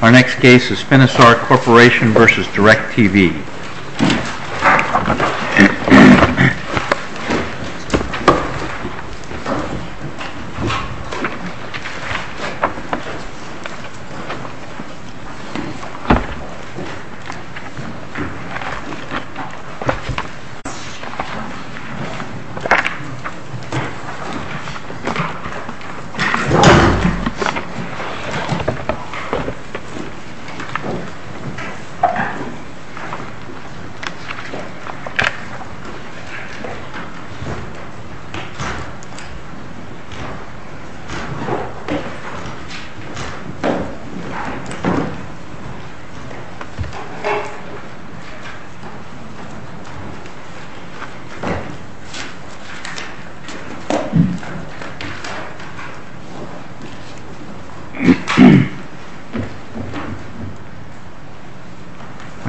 Our next case is Finisar Corporation v. Directv. This case is Finisar Corporation v. Directv. When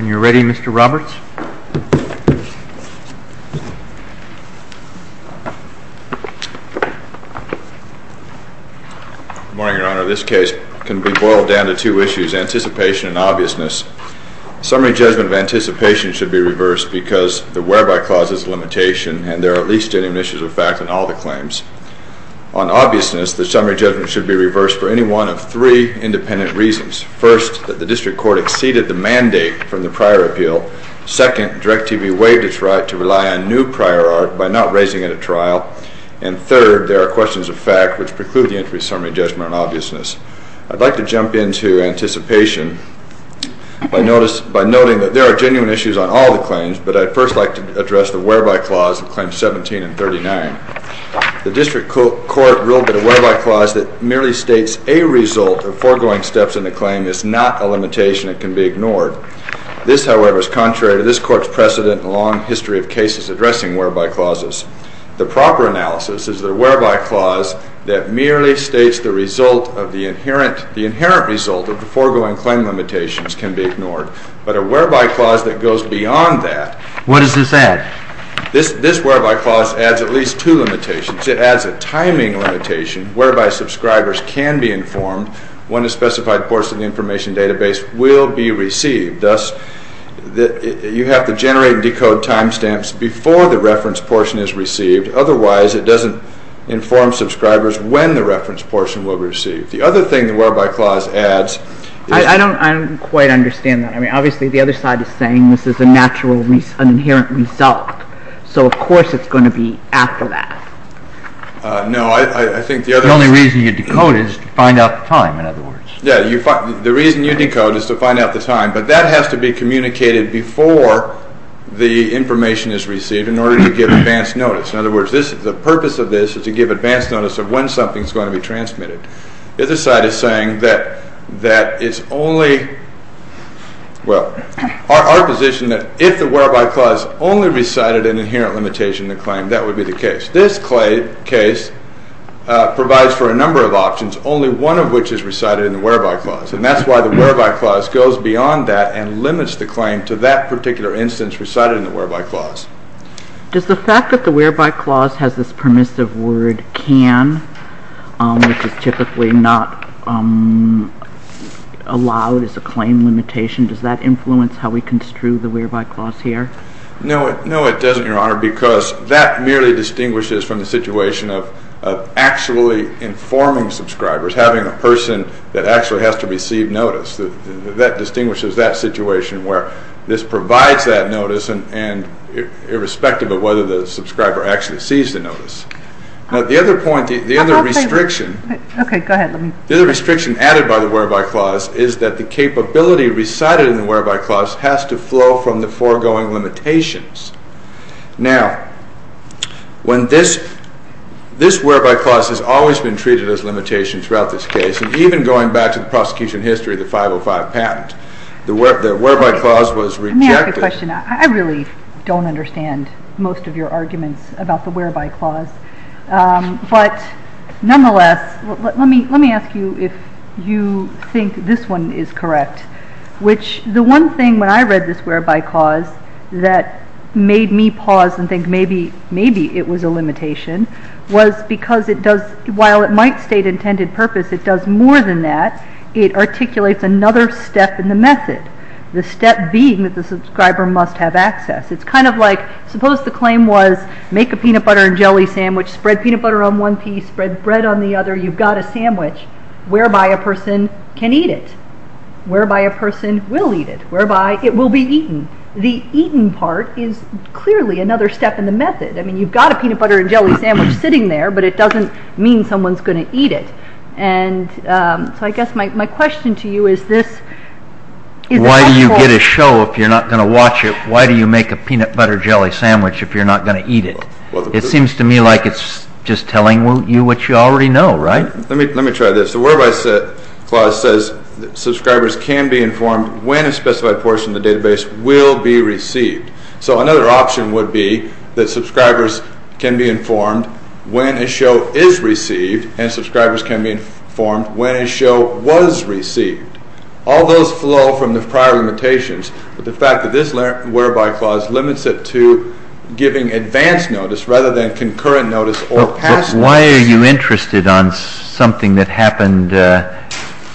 you're ready, Mr. Roberts. Good morning, Your Honor. This case can be boiled down to two issues, anticipation and obviousness. Summary judgment of anticipation should be reversed because the whereby clause is a limitation and there are at least genuine issues of fact in all the claims. On obviousness, the summary judgment should be reversed for any one of three independent reasons. First, that the district court exceeded the mandate from the prior appeal. Second, Directv waived its right to rely on new prior art by not raising it at trial. And third, there are questions of fact which preclude the entry of summary judgment on obviousness. I'd like to jump into anticipation by noting that there are genuine issues on all the claims, but I'd first like to address the whereby clause in Claims 17 and 39. The district court ruled that a whereby clause that merely states a result of foregoing steps in the claim is not a limitation and can be ignored. This, however, is contrary to this court's precedent and long history of cases addressing whereby clauses. The proper analysis is that a whereby clause that merely states the result of the inherent result of the foregoing claim limitations can be ignored. But a whereby clause that goes beyond that... What does this add? This whereby clause adds at least two limitations. It adds a timing limitation whereby subscribers can be informed when a specified portion of the information database will be received. Thus, you have to generate and decode timestamps before the reference portion is received. Otherwise, it doesn't inform subscribers when the reference portion will be received. The other thing the whereby clause adds... I don't quite understand that. I mean, obviously, the other side is saying this is a natural, an inherent result. So, of course, it's going to be after that. No, I think the other... The only reason you decode is to find out the time, in other words. Yeah, the reason you decode is to find out the time, but that has to be communicated before the information is received in order to give advance notice. In other words, the purpose of this is to give advance notice of when something is going to be transmitted. The other side is saying that it's only... Well, our position that if the whereby clause only recited an inherent limitation in the claim, that would be the case. This case provides for a number of options, only one of which is recited in the whereby clause. And that's why the whereby clause goes beyond that and limits the claim to that particular instance recited in the whereby clause. Does the fact that the whereby clause has this permissive word can, which is typically not allowed as a claim limitation, does that influence how we construe the whereby clause here? No, it doesn't, Your Honor, because that merely distinguishes from the situation of actually informing subscribers, having a person that actually has to receive notice. That distinguishes that situation where this provides that notice and irrespective of whether the subscriber actually sees the notice. Now, the other point, the other restriction... Okay, go ahead. The other restriction added by the whereby clause is that the capability recited in the whereby clause has to flow from the foregoing limitations. Now, when this whereby clause has always been treated as limitation throughout this case, even going back to the prosecution history, the 505 patent, the whereby clause was rejected. Let me ask a question. I really don't understand most of your arguments about the whereby clause. But nonetheless, let me ask you if you think this one is correct, which the one thing when I read this whereby clause that made me pause and think maybe it was a limitation was because it does, while it might state intended purpose, it does more than that. It articulates another step in the method. The step being that the subscriber must have access. It's kind of like suppose the claim was make a peanut butter and jelly sandwich, spread peanut butter on one piece, spread bread on the other. You've got a sandwich whereby a person can eat it, whereby a person will eat it, whereby it will be eaten. The eaten part is clearly another step in the method. I mean, you've got a peanut butter and jelly sandwich sitting there, but it doesn't mean someone's going to eat it. And so I guess my question to you is this. Why do you get a show if you're not going to watch it? Why do you make a peanut butter jelly sandwich if you're not going to eat it? It seems to me like it's just telling you what you already know, right? Let me try this. The whereby clause says subscribers can be informed when a specified portion of the database will be received. So another option would be that subscribers can be informed when a show is received and subscribers can be informed when a show was received. All those flow from the prior limitations, but the fact that this whereby clause limits it to giving advanced notice rather than concurrent notice or past notice. But why are you interested on something that happened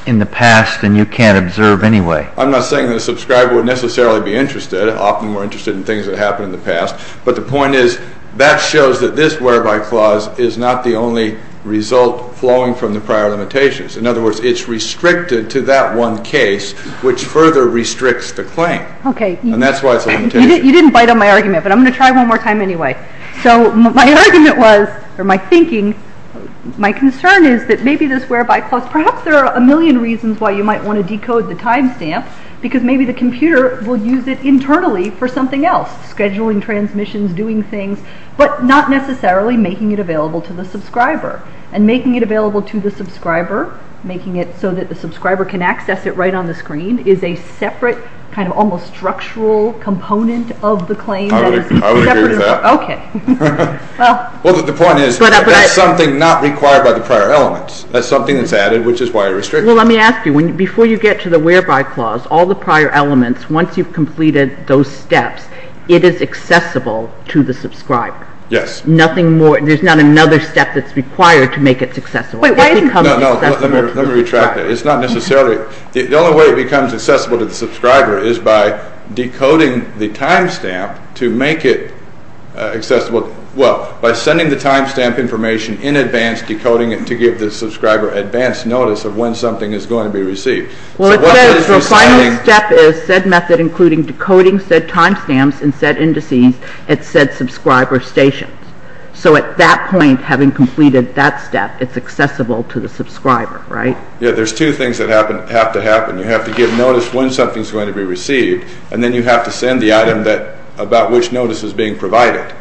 in the past and you can't observe anyway? I'm not saying that a subscriber would necessarily be interested. Often we're interested in things that happened in the past, but the point is that shows that this whereby clause is not the only result flowing from the prior limitations. In other words, it's restricted to that one case, which further restricts the claim. And that's why it's a limitation. You didn't bite on my argument, but I'm going to try one more time anyway. So my argument was, or my thinking, my concern is that maybe this whereby clause, perhaps there are a million reasons why you might want to decode the timestamp, because maybe the computer will use it internally for something else, scheduling transmissions, doing things, but not necessarily making it available to the subscriber. And making it available to the subscriber, making it so that the subscriber can access it right on the screen, is a separate kind of almost structural component of the claim. I would agree with that. Okay. Well, the point is, that's something not required by the prior elements. That's something that's added, which is why it's restricted. Well, let me ask you. Before you get to the whereby clause, all the prior elements, once you've completed those steps, it is accessible to the subscriber. Yes. Nothing more, there's not another step that's required to make it accessible. Wait, why isn't it accessible to the subscriber? No, no, let me retract that. It's not necessarily, the only way it becomes accessible to the subscriber is by decoding the timestamp to make it accessible, well, by sending the timestamp information in advance, decoding it to give the subscriber advance notice of when something is going to be received. Well, the final step is said method including decoding said timestamps and said indices at said subscriber stations. So at that point, having completed that step, it's accessible to the subscriber, right? Yeah, there's two things that have to happen. You have to give notice when something's going to be received, and then you have to send the item about which notice is being provided.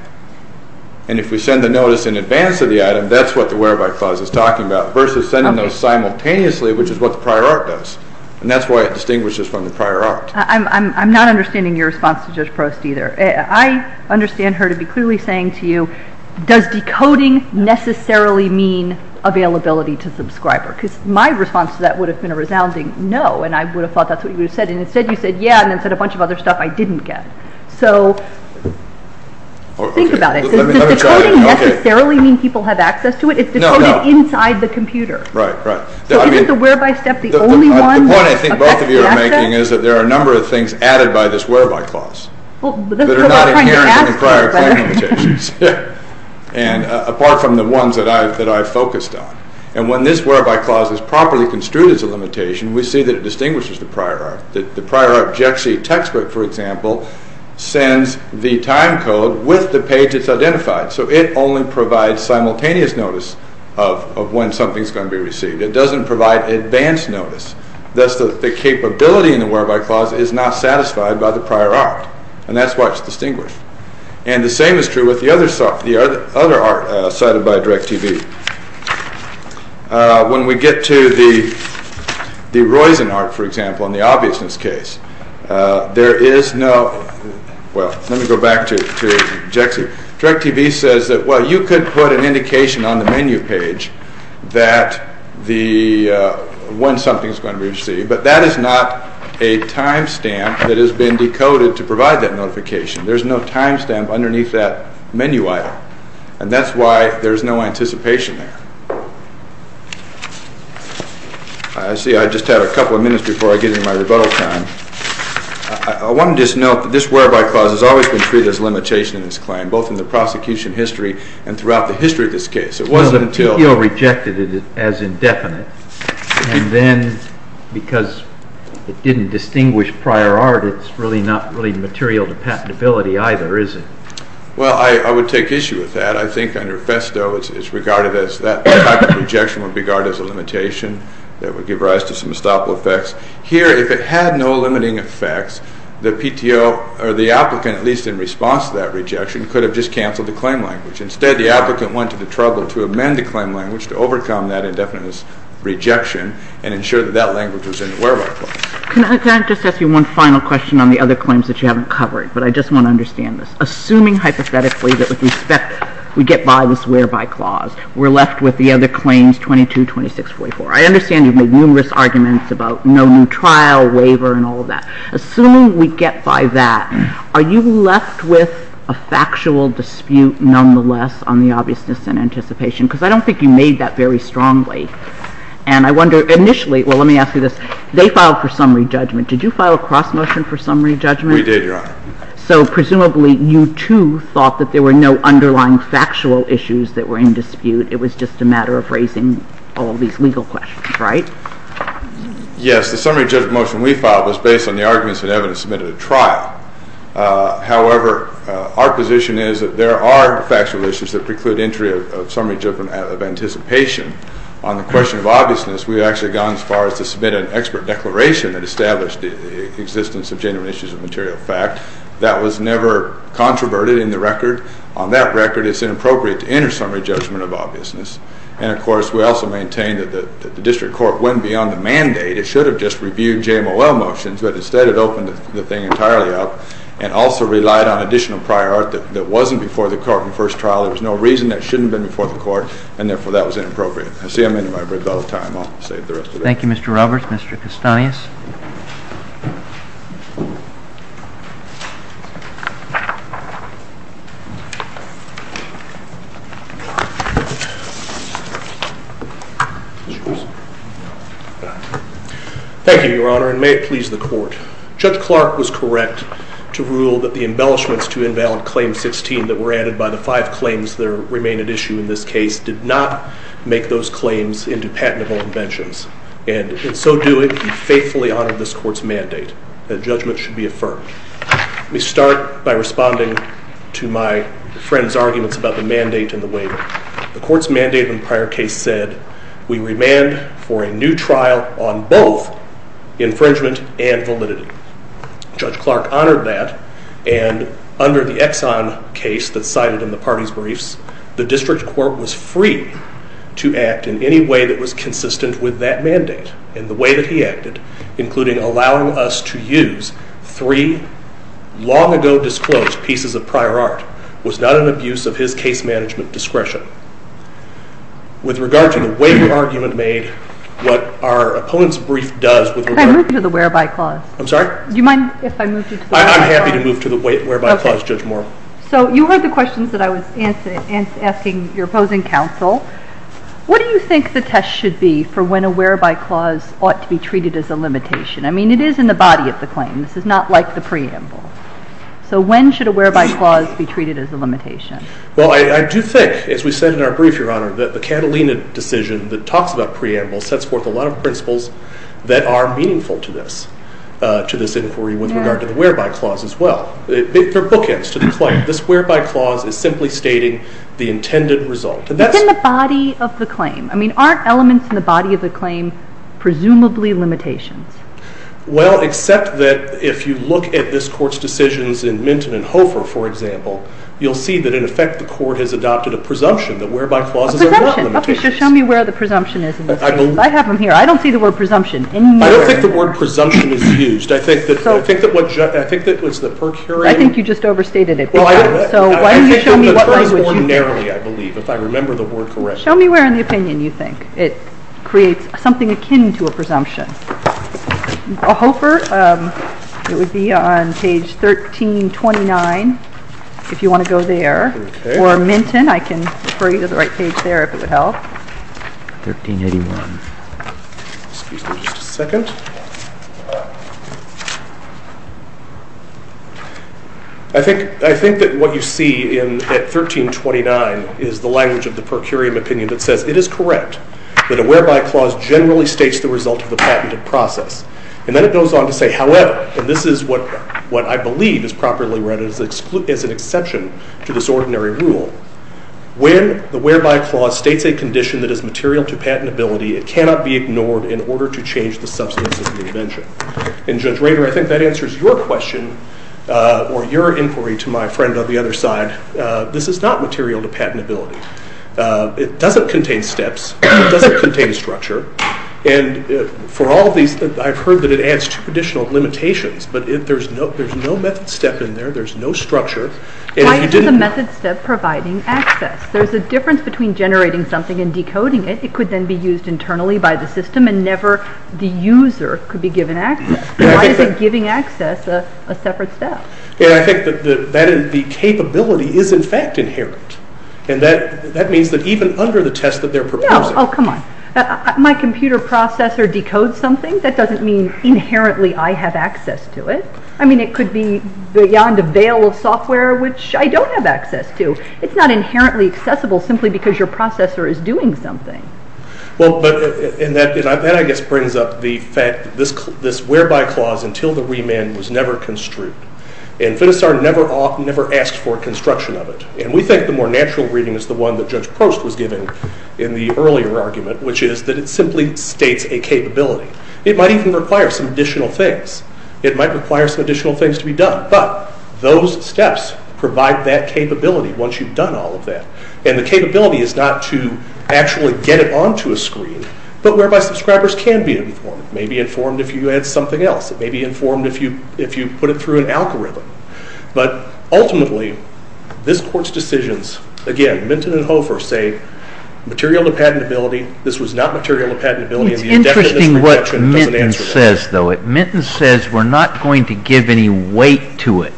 And if we send the notice in advance of the item, that's what the whereby clause is talking about versus sending those simultaneously, which is what the prior art does. And that's why it distinguishes from the prior art. I'm not understanding your response to Judge Prost either. I understand her to be clearly saying to you, does decoding necessarily mean availability to subscriber? Because my response to that would have been a resounding no, and I would have thought that's what you would have said, and instead you said yeah, and then said a bunch of other stuff I didn't get. So think about it. Does decoding necessarily mean people have access to it? It's decoded inside the computer. Right, right. So isn't the whereby step the only one? The point I think both of you are making is that there are a number of things added by this whereby clause that are not inherent in prior claim limitations, apart from the ones that I focused on. And when this whereby clause is properly construed as a limitation, we see that it distinguishes the prior art. The prior art textbook, for example, sends the time code with the page it's identified. So it only provides simultaneous notice of when something's going to be received. It doesn't provide advanced notice. Thus the capability in the whereby clause is not satisfied by the prior art, and that's why it's distinguished. And the same is true with the other art cited by DIRECTV. When we get to the Reusen art, for example, in the obviousness case, there is no – well, let me go back to JEXI. DIRECTV says that, well, you could put an indication on the menu page that the – when something's going to be received, but that is not a timestamp that has been decoded to provide that notification. There's no timestamp underneath that menu item. And that's why there's no anticipation there. I see I just had a couple of minutes before I get into my rebuttal time. I wanted to just note that this whereby clause has always been treated as a limitation in this claim, both in the prosecution history and throughout the history of this case. It wasn't until – Well, the appeal rejected it as indefinite, and then because it didn't distinguish prior art, it's really not really material to patentability either, is it? Well, I would take issue with that. I think under FESTO, it's regarded as – that type of rejection would be regarded as a limitation. That would give rise to some estoppel effects. Here, if it had no limiting effects, the PTO or the applicant, at least in response to that rejection, could have just canceled the claim language. Instead, the applicant went to the trouble to amend the claim language to overcome that indefinite rejection and ensure that that language was in the whereby clause. Can I just ask you one final question on the other claims that you haven't covered? But I just want to understand this. Assuming hypothetically that with respect – we get by this whereby clause, we're left with the other claims 222644. I understand you've made numerous arguments about no new trial, waiver, and all of that. Assuming we get by that, are you left with a factual dispute nonetheless on the obviousness and anticipation? Because I don't think you made that very strongly. And I wonder – initially – well, let me ask you this. They filed for summary judgment. Did you file a cross-motion for summary judgment? We did, Your Honor. So presumably you, too, thought that there were no underlying factual issues that were in dispute. It was just a matter of raising all these legal questions, right? Yes. The summary judgment motion we filed was based on the arguments and evidence submitted at trial. However, our position is that there are factual issues that preclude entry of summary judgment of anticipation. On the question of obviousness, we've actually gone as far as to submit an expert declaration that established the existence of genuine issues of material fact. That was never controverted in the record. On that record, it's inappropriate to enter summary judgment of obviousness. And, of course, we also maintain that the district court went beyond the mandate. It should have just reviewed JMOL motions, but instead it opened the thing entirely up and also relied on additional prior art that wasn't before the court in the first trial. There was no reason that shouldn't have been before the court, and, therefore, that was inappropriate. I'll save the rest of it. Thank you, Mr. Roberts. Mr. Kastanis. Thank you, Your Honor, and may it please the court. Judge Clark was correct to rule that the embellishments to Invalid Claim 16 that were added by the five claims that remain at issue in this case did not make those claims into patentable inventions. And in so doing, we faithfully honor this court's mandate that judgment should be affirmed. Let me start by responding to my friend's arguments about the mandate and the waiver. The court's mandate in the prior case said, we remand for a new trial on both infringement and validity. Judge Clark honored that, and under the Exxon case that's cited in the party's briefs, the district court was free to act in any way that was consistent with that mandate in the way that he acted, including allowing us to use three long-ago-disclosed pieces of prior art was not an abuse of his case management discretion. With regard to the waiver argument made, what our opponent's brief does with regard to... Can I move you to the whereby clause? I'm sorry? Do you mind if I move you to the whereby clause? I'm happy to move to the whereby clause, Judge Moore. So you heard the questions that I was asking your opposing counsel. What do you think the test should be for when a whereby clause ought to be treated as a limitation? I mean, it is in the body of the claim. This is not like the preamble. So when should a whereby clause be treated as a limitation? Well, I do think, as we said in our brief, Your Honor, that the Catalina decision that talks about preamble sets forth a lot of principles that are meaningful to this inquiry with regard to the whereby clause as well. They're bookends to the claim. This whereby clause is simply stating the intended result. It's in the body of the claim. I mean, aren't elements in the body of the claim presumably limitations? Well, except that if you look at this Court's decisions in Minton and Hofer, for example, you'll see that, in effect, the Court has adopted a presumption that whereby clauses are not limitations. A presumption. Okay, so show me where the presumption is in this case. I have them here. I don't see the word presumption anywhere. I don't think the word presumption is used. I think that was the per curiam. I think you just overstated it. Well, I didn't. So why don't you show me what language you think. I think it was ordinarily, I believe, if I remember the word correctly. Show me where in the opinion you think it creates something akin to a presumption. Hofer, it would be on page 1329 if you want to go there. Okay. Or Minton, I can refer you to the right page there if it would help. 1381. Excuse me just a second. I think that what you see at 1329 is the language of the per curiam opinion that says, it is correct that a whereby clause generally states the result of the patented process. And then it goes on to say, however, and this is what I believe is properly read as an exception to this ordinary rule. When the whereby clause states a condition that is material to patentability, it cannot be ignored in order to change the substance of the invention. And Judge Rader, I think that answers your question or your inquiry to my friend on the other side. This is not material to patentability. It doesn't contain steps. It doesn't contain structure. And for all of these, I've heard that it adds two additional limitations. But there's no method step in there. There's no structure. Why is the method step providing access? There's a difference between generating something and decoding it. It could then be used internally by the system and never the user could be given access. Why is it giving access a separate step? I think that the capability is in fact inherent. And that means that even under the test that they're proposing. Oh, come on. My computer processor decodes something? That doesn't mean inherently I have access to it. I mean, it could be beyond a veil of software, which I don't have access to. It's not inherently accessible simply because your processor is doing something. Well, and that, I guess, brings up the fact that this whereby clause until the remand was never construed. And Finisard never asked for a construction of it. And we think the more natural reading is the one that Judge Prost was giving in the earlier argument, which is that it simply states a capability. It might even require some additional things. It might require some additional things to be done. But those steps provide that capability once you've done all of that. And the capability is not to actually get it onto a screen, but whereby subscribers can be informed. It may be informed if you add something else. It may be informed if you put it through an algorithm. But ultimately, this Court's decisions, again, Minton and Hofer say material to patentability. This was not material to patentability. I think it's interesting what Minton says, though. Minton says we're not going to give any weight to it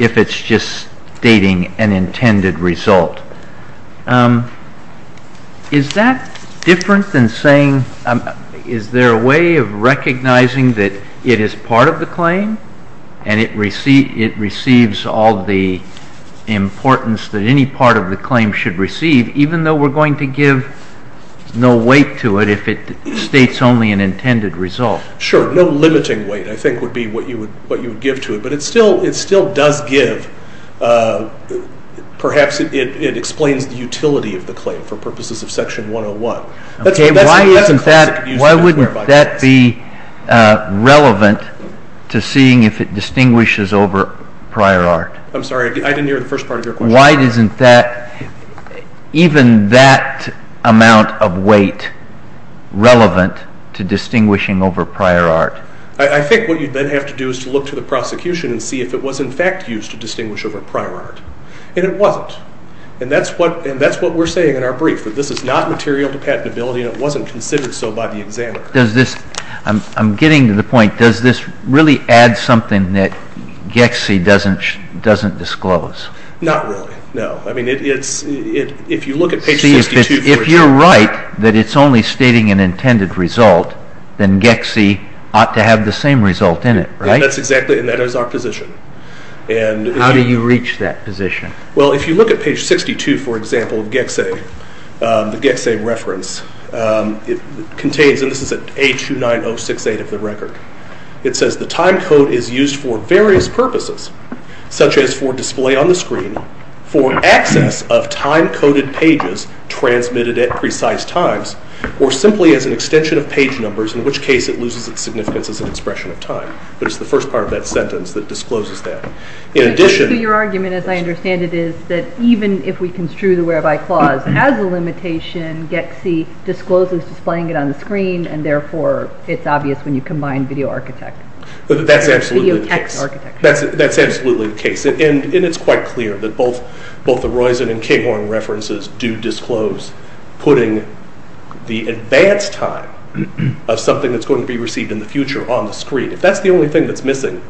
if it's just stating an intended result. Is that different than saying, is there a way of recognizing that it is part of the claim and it receives all the importance that any part of the claim should receive, even though we're going to give no weight to it if it states only an intended result? Sure. No limiting weight, I think, would be what you would give to it. But it still does give, perhaps it explains the utility of the claim for purposes of Section 101. Okay. Why wouldn't that be relevant to seeing if it distinguishes over prior art? I'm sorry. I didn't hear the first part of your question. Why isn't even that amount of weight relevant to distinguishing over prior art? I think what you'd then have to do is to look to the prosecution and see if it was in fact used to distinguish over prior art, and it wasn't. And that's what we're saying in our brief, that this is not material to patentability and it wasn't considered so by the examiner. I'm getting to the point, does this really add something that Gexie doesn't disclose? Not really, no. I mean, if you look at page 62 for example. See, if you're right that it's only stating an intended result, then Gexie ought to have the same result in it, right? That's exactly, and that is our position. How do you reach that position? Well, if you look at page 62, for example, of Gexie, the Gexie reference, it contains, and this is at A29068 of the record, it says the time code is used for various purposes, such as for display on the screen, for access of time-coded pages transmitted at precise times, or simply as an extension of page numbers, in which case it loses its significance as an expression of time. But it's the first part of that sentence that discloses that. Your argument, as I understand it, is that even if we construe the whereby clause as a limitation, Gexie discloses displaying it on the screen, and therefore it's obvious when you combine video architect. That's absolutely the case. That's absolutely the case. And it's quite clear that both the Roizen and Kinghorn references do disclose putting the advanced time of something that's going to be received in the future on the screen. If that's the only thing that's missing,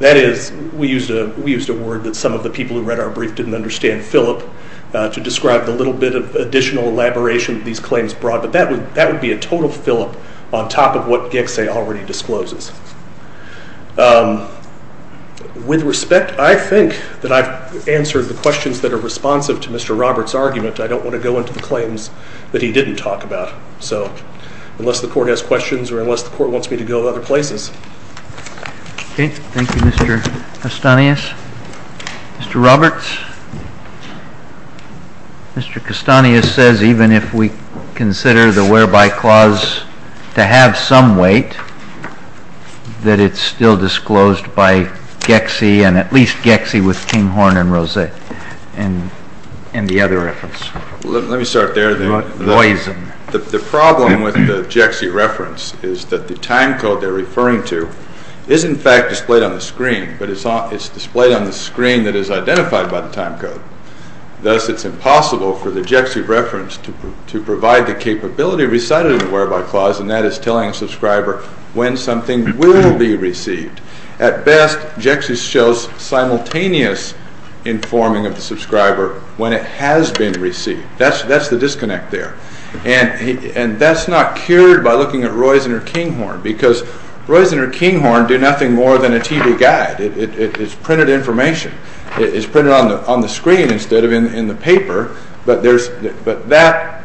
that is we used a word that some of the people who read our brief didn't understand, Philip, to describe the little bit of additional elaboration these claims brought, but that would be a total fill-up on top of what Gexie already discloses. With respect, I think that I've answered the questions that are responsive to Mr. Roberts' argument. I don't want to go into the claims that he didn't talk about, unless the Court has questions or unless the Court wants me to go other places. Thank you, Mr. Castanis. Mr. Roberts? Mr. Castanis says even if we consider the whereby clause to have some weight, that it's still disclosed by Gexie and at least Gexie with Kinghorn and Roizen in the other reference. Let me start there. The problem with the Gexie reference is that the time code they're referring to is in fact displayed on the screen, but it's displayed on the screen that is identified by the time code. Thus, it's impossible for the Gexie reference to provide the capability recited in the whereby clause, and that is telling a subscriber when something will be received. At best, Gexie shows simultaneous informing of the subscriber when it has been received. That's the disconnect there. And that's not cured by looking at Roizen or Kinghorn, because Roizen or Kinghorn do nothing more than a TV guide. It's printed information. It's printed on the screen instead of in the paper, but that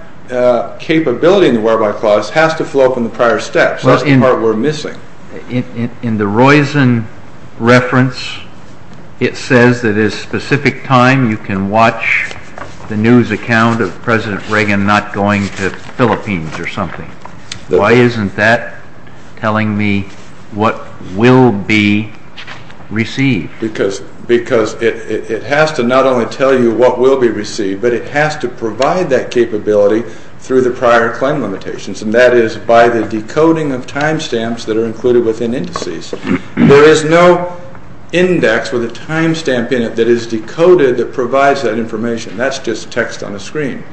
capability in the whereby clause has to flow from the prior steps. That's the part we're missing. In the Roizen reference, it says that at a specific time you can watch the news account of President Reagan not going to the Philippines or something. Why isn't that telling me what will be received? Because it has to not only tell you what will be received, but it has to provide that capability through the prior claim limitations, and that is by the decoding of time stamps that are included within indices. There is no index with a time stamp in it that is decoded that provides that information. That's just text on a screen.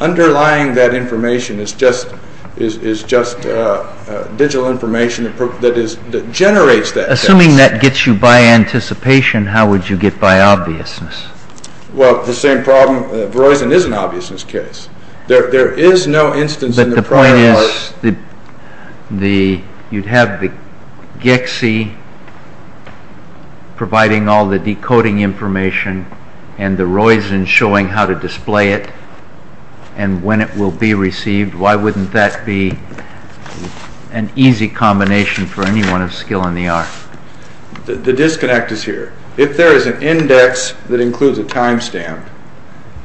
Underlying that information is just digital information that generates that text. Assuming that gets you by anticipation, how would you get by obviousness? Well, the same problem. Roizen is an obviousness case. There is no instance in the prior... But the point is you'd have the GICSI providing all the decoding information and the Roizen showing how to display it and when it will be received. Why wouldn't that be an easy combination for anyone of skill in the art? The disconnect is here. If there is an index that includes a time stamp,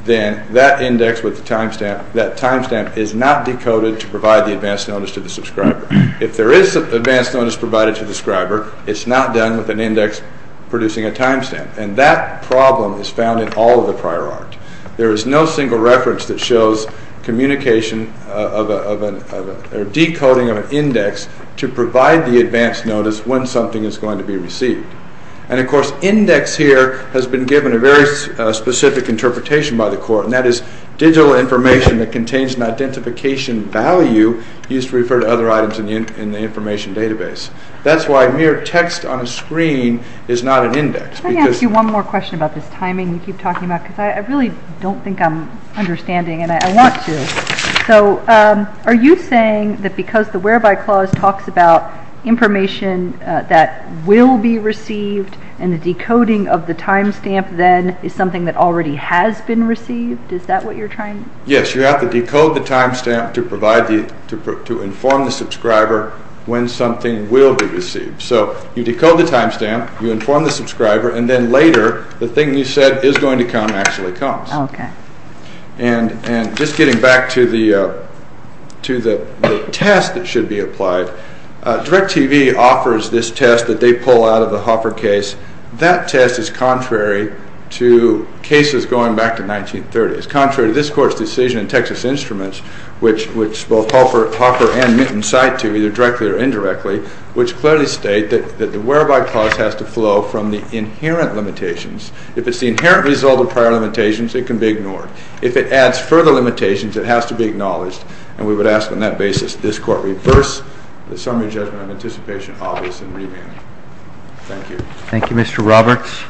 then that index with the time stamp, that time stamp is not decoded to provide the advance notice to the subscriber. If there is advance notice provided to the subscriber, it's not done with an index producing a time stamp. And that problem is found in all of the prior art. There is no single reference that shows communication or decoding of an index to provide the advance notice when something is going to be received. And, of course, index here has been given a very specific interpretation by the court, and that is digital information that contains an identification value used to refer to other items in the information database. That's why mere text on a screen is not an index. Can I ask you one more question about this timing? You keep talking about it, because I really don't think I'm understanding, and I want to. Are you saying that because the Whereby Clause talks about information that will be received and the decoding of the time stamp then is something that already has been received? Is that what you're trying to... Yes, you have to decode the time stamp to inform the subscriber when something will be received. So you decode the time stamp, you inform the subscriber, and then later the thing you said is going to come actually comes. Okay. And just getting back to the test that should be applied, DIRECTV offers this test that they pull out of the Hoffer case. That test is contrary to cases going back to the 1930s, contrary to this court's decision in Texas Instruments, which both Hoffer and Minton cite to, either directly or indirectly, which clearly state that the Whereby Clause has to flow from the inherent limitations. If it's the inherent result of prior limitations, it can be ignored. If it adds further limitations, it has to be acknowledged, and we would ask on that basis that this court reverse the summary judgment on anticipation, obvious, and remand. Thank you. Thank you, Mr. Roberts.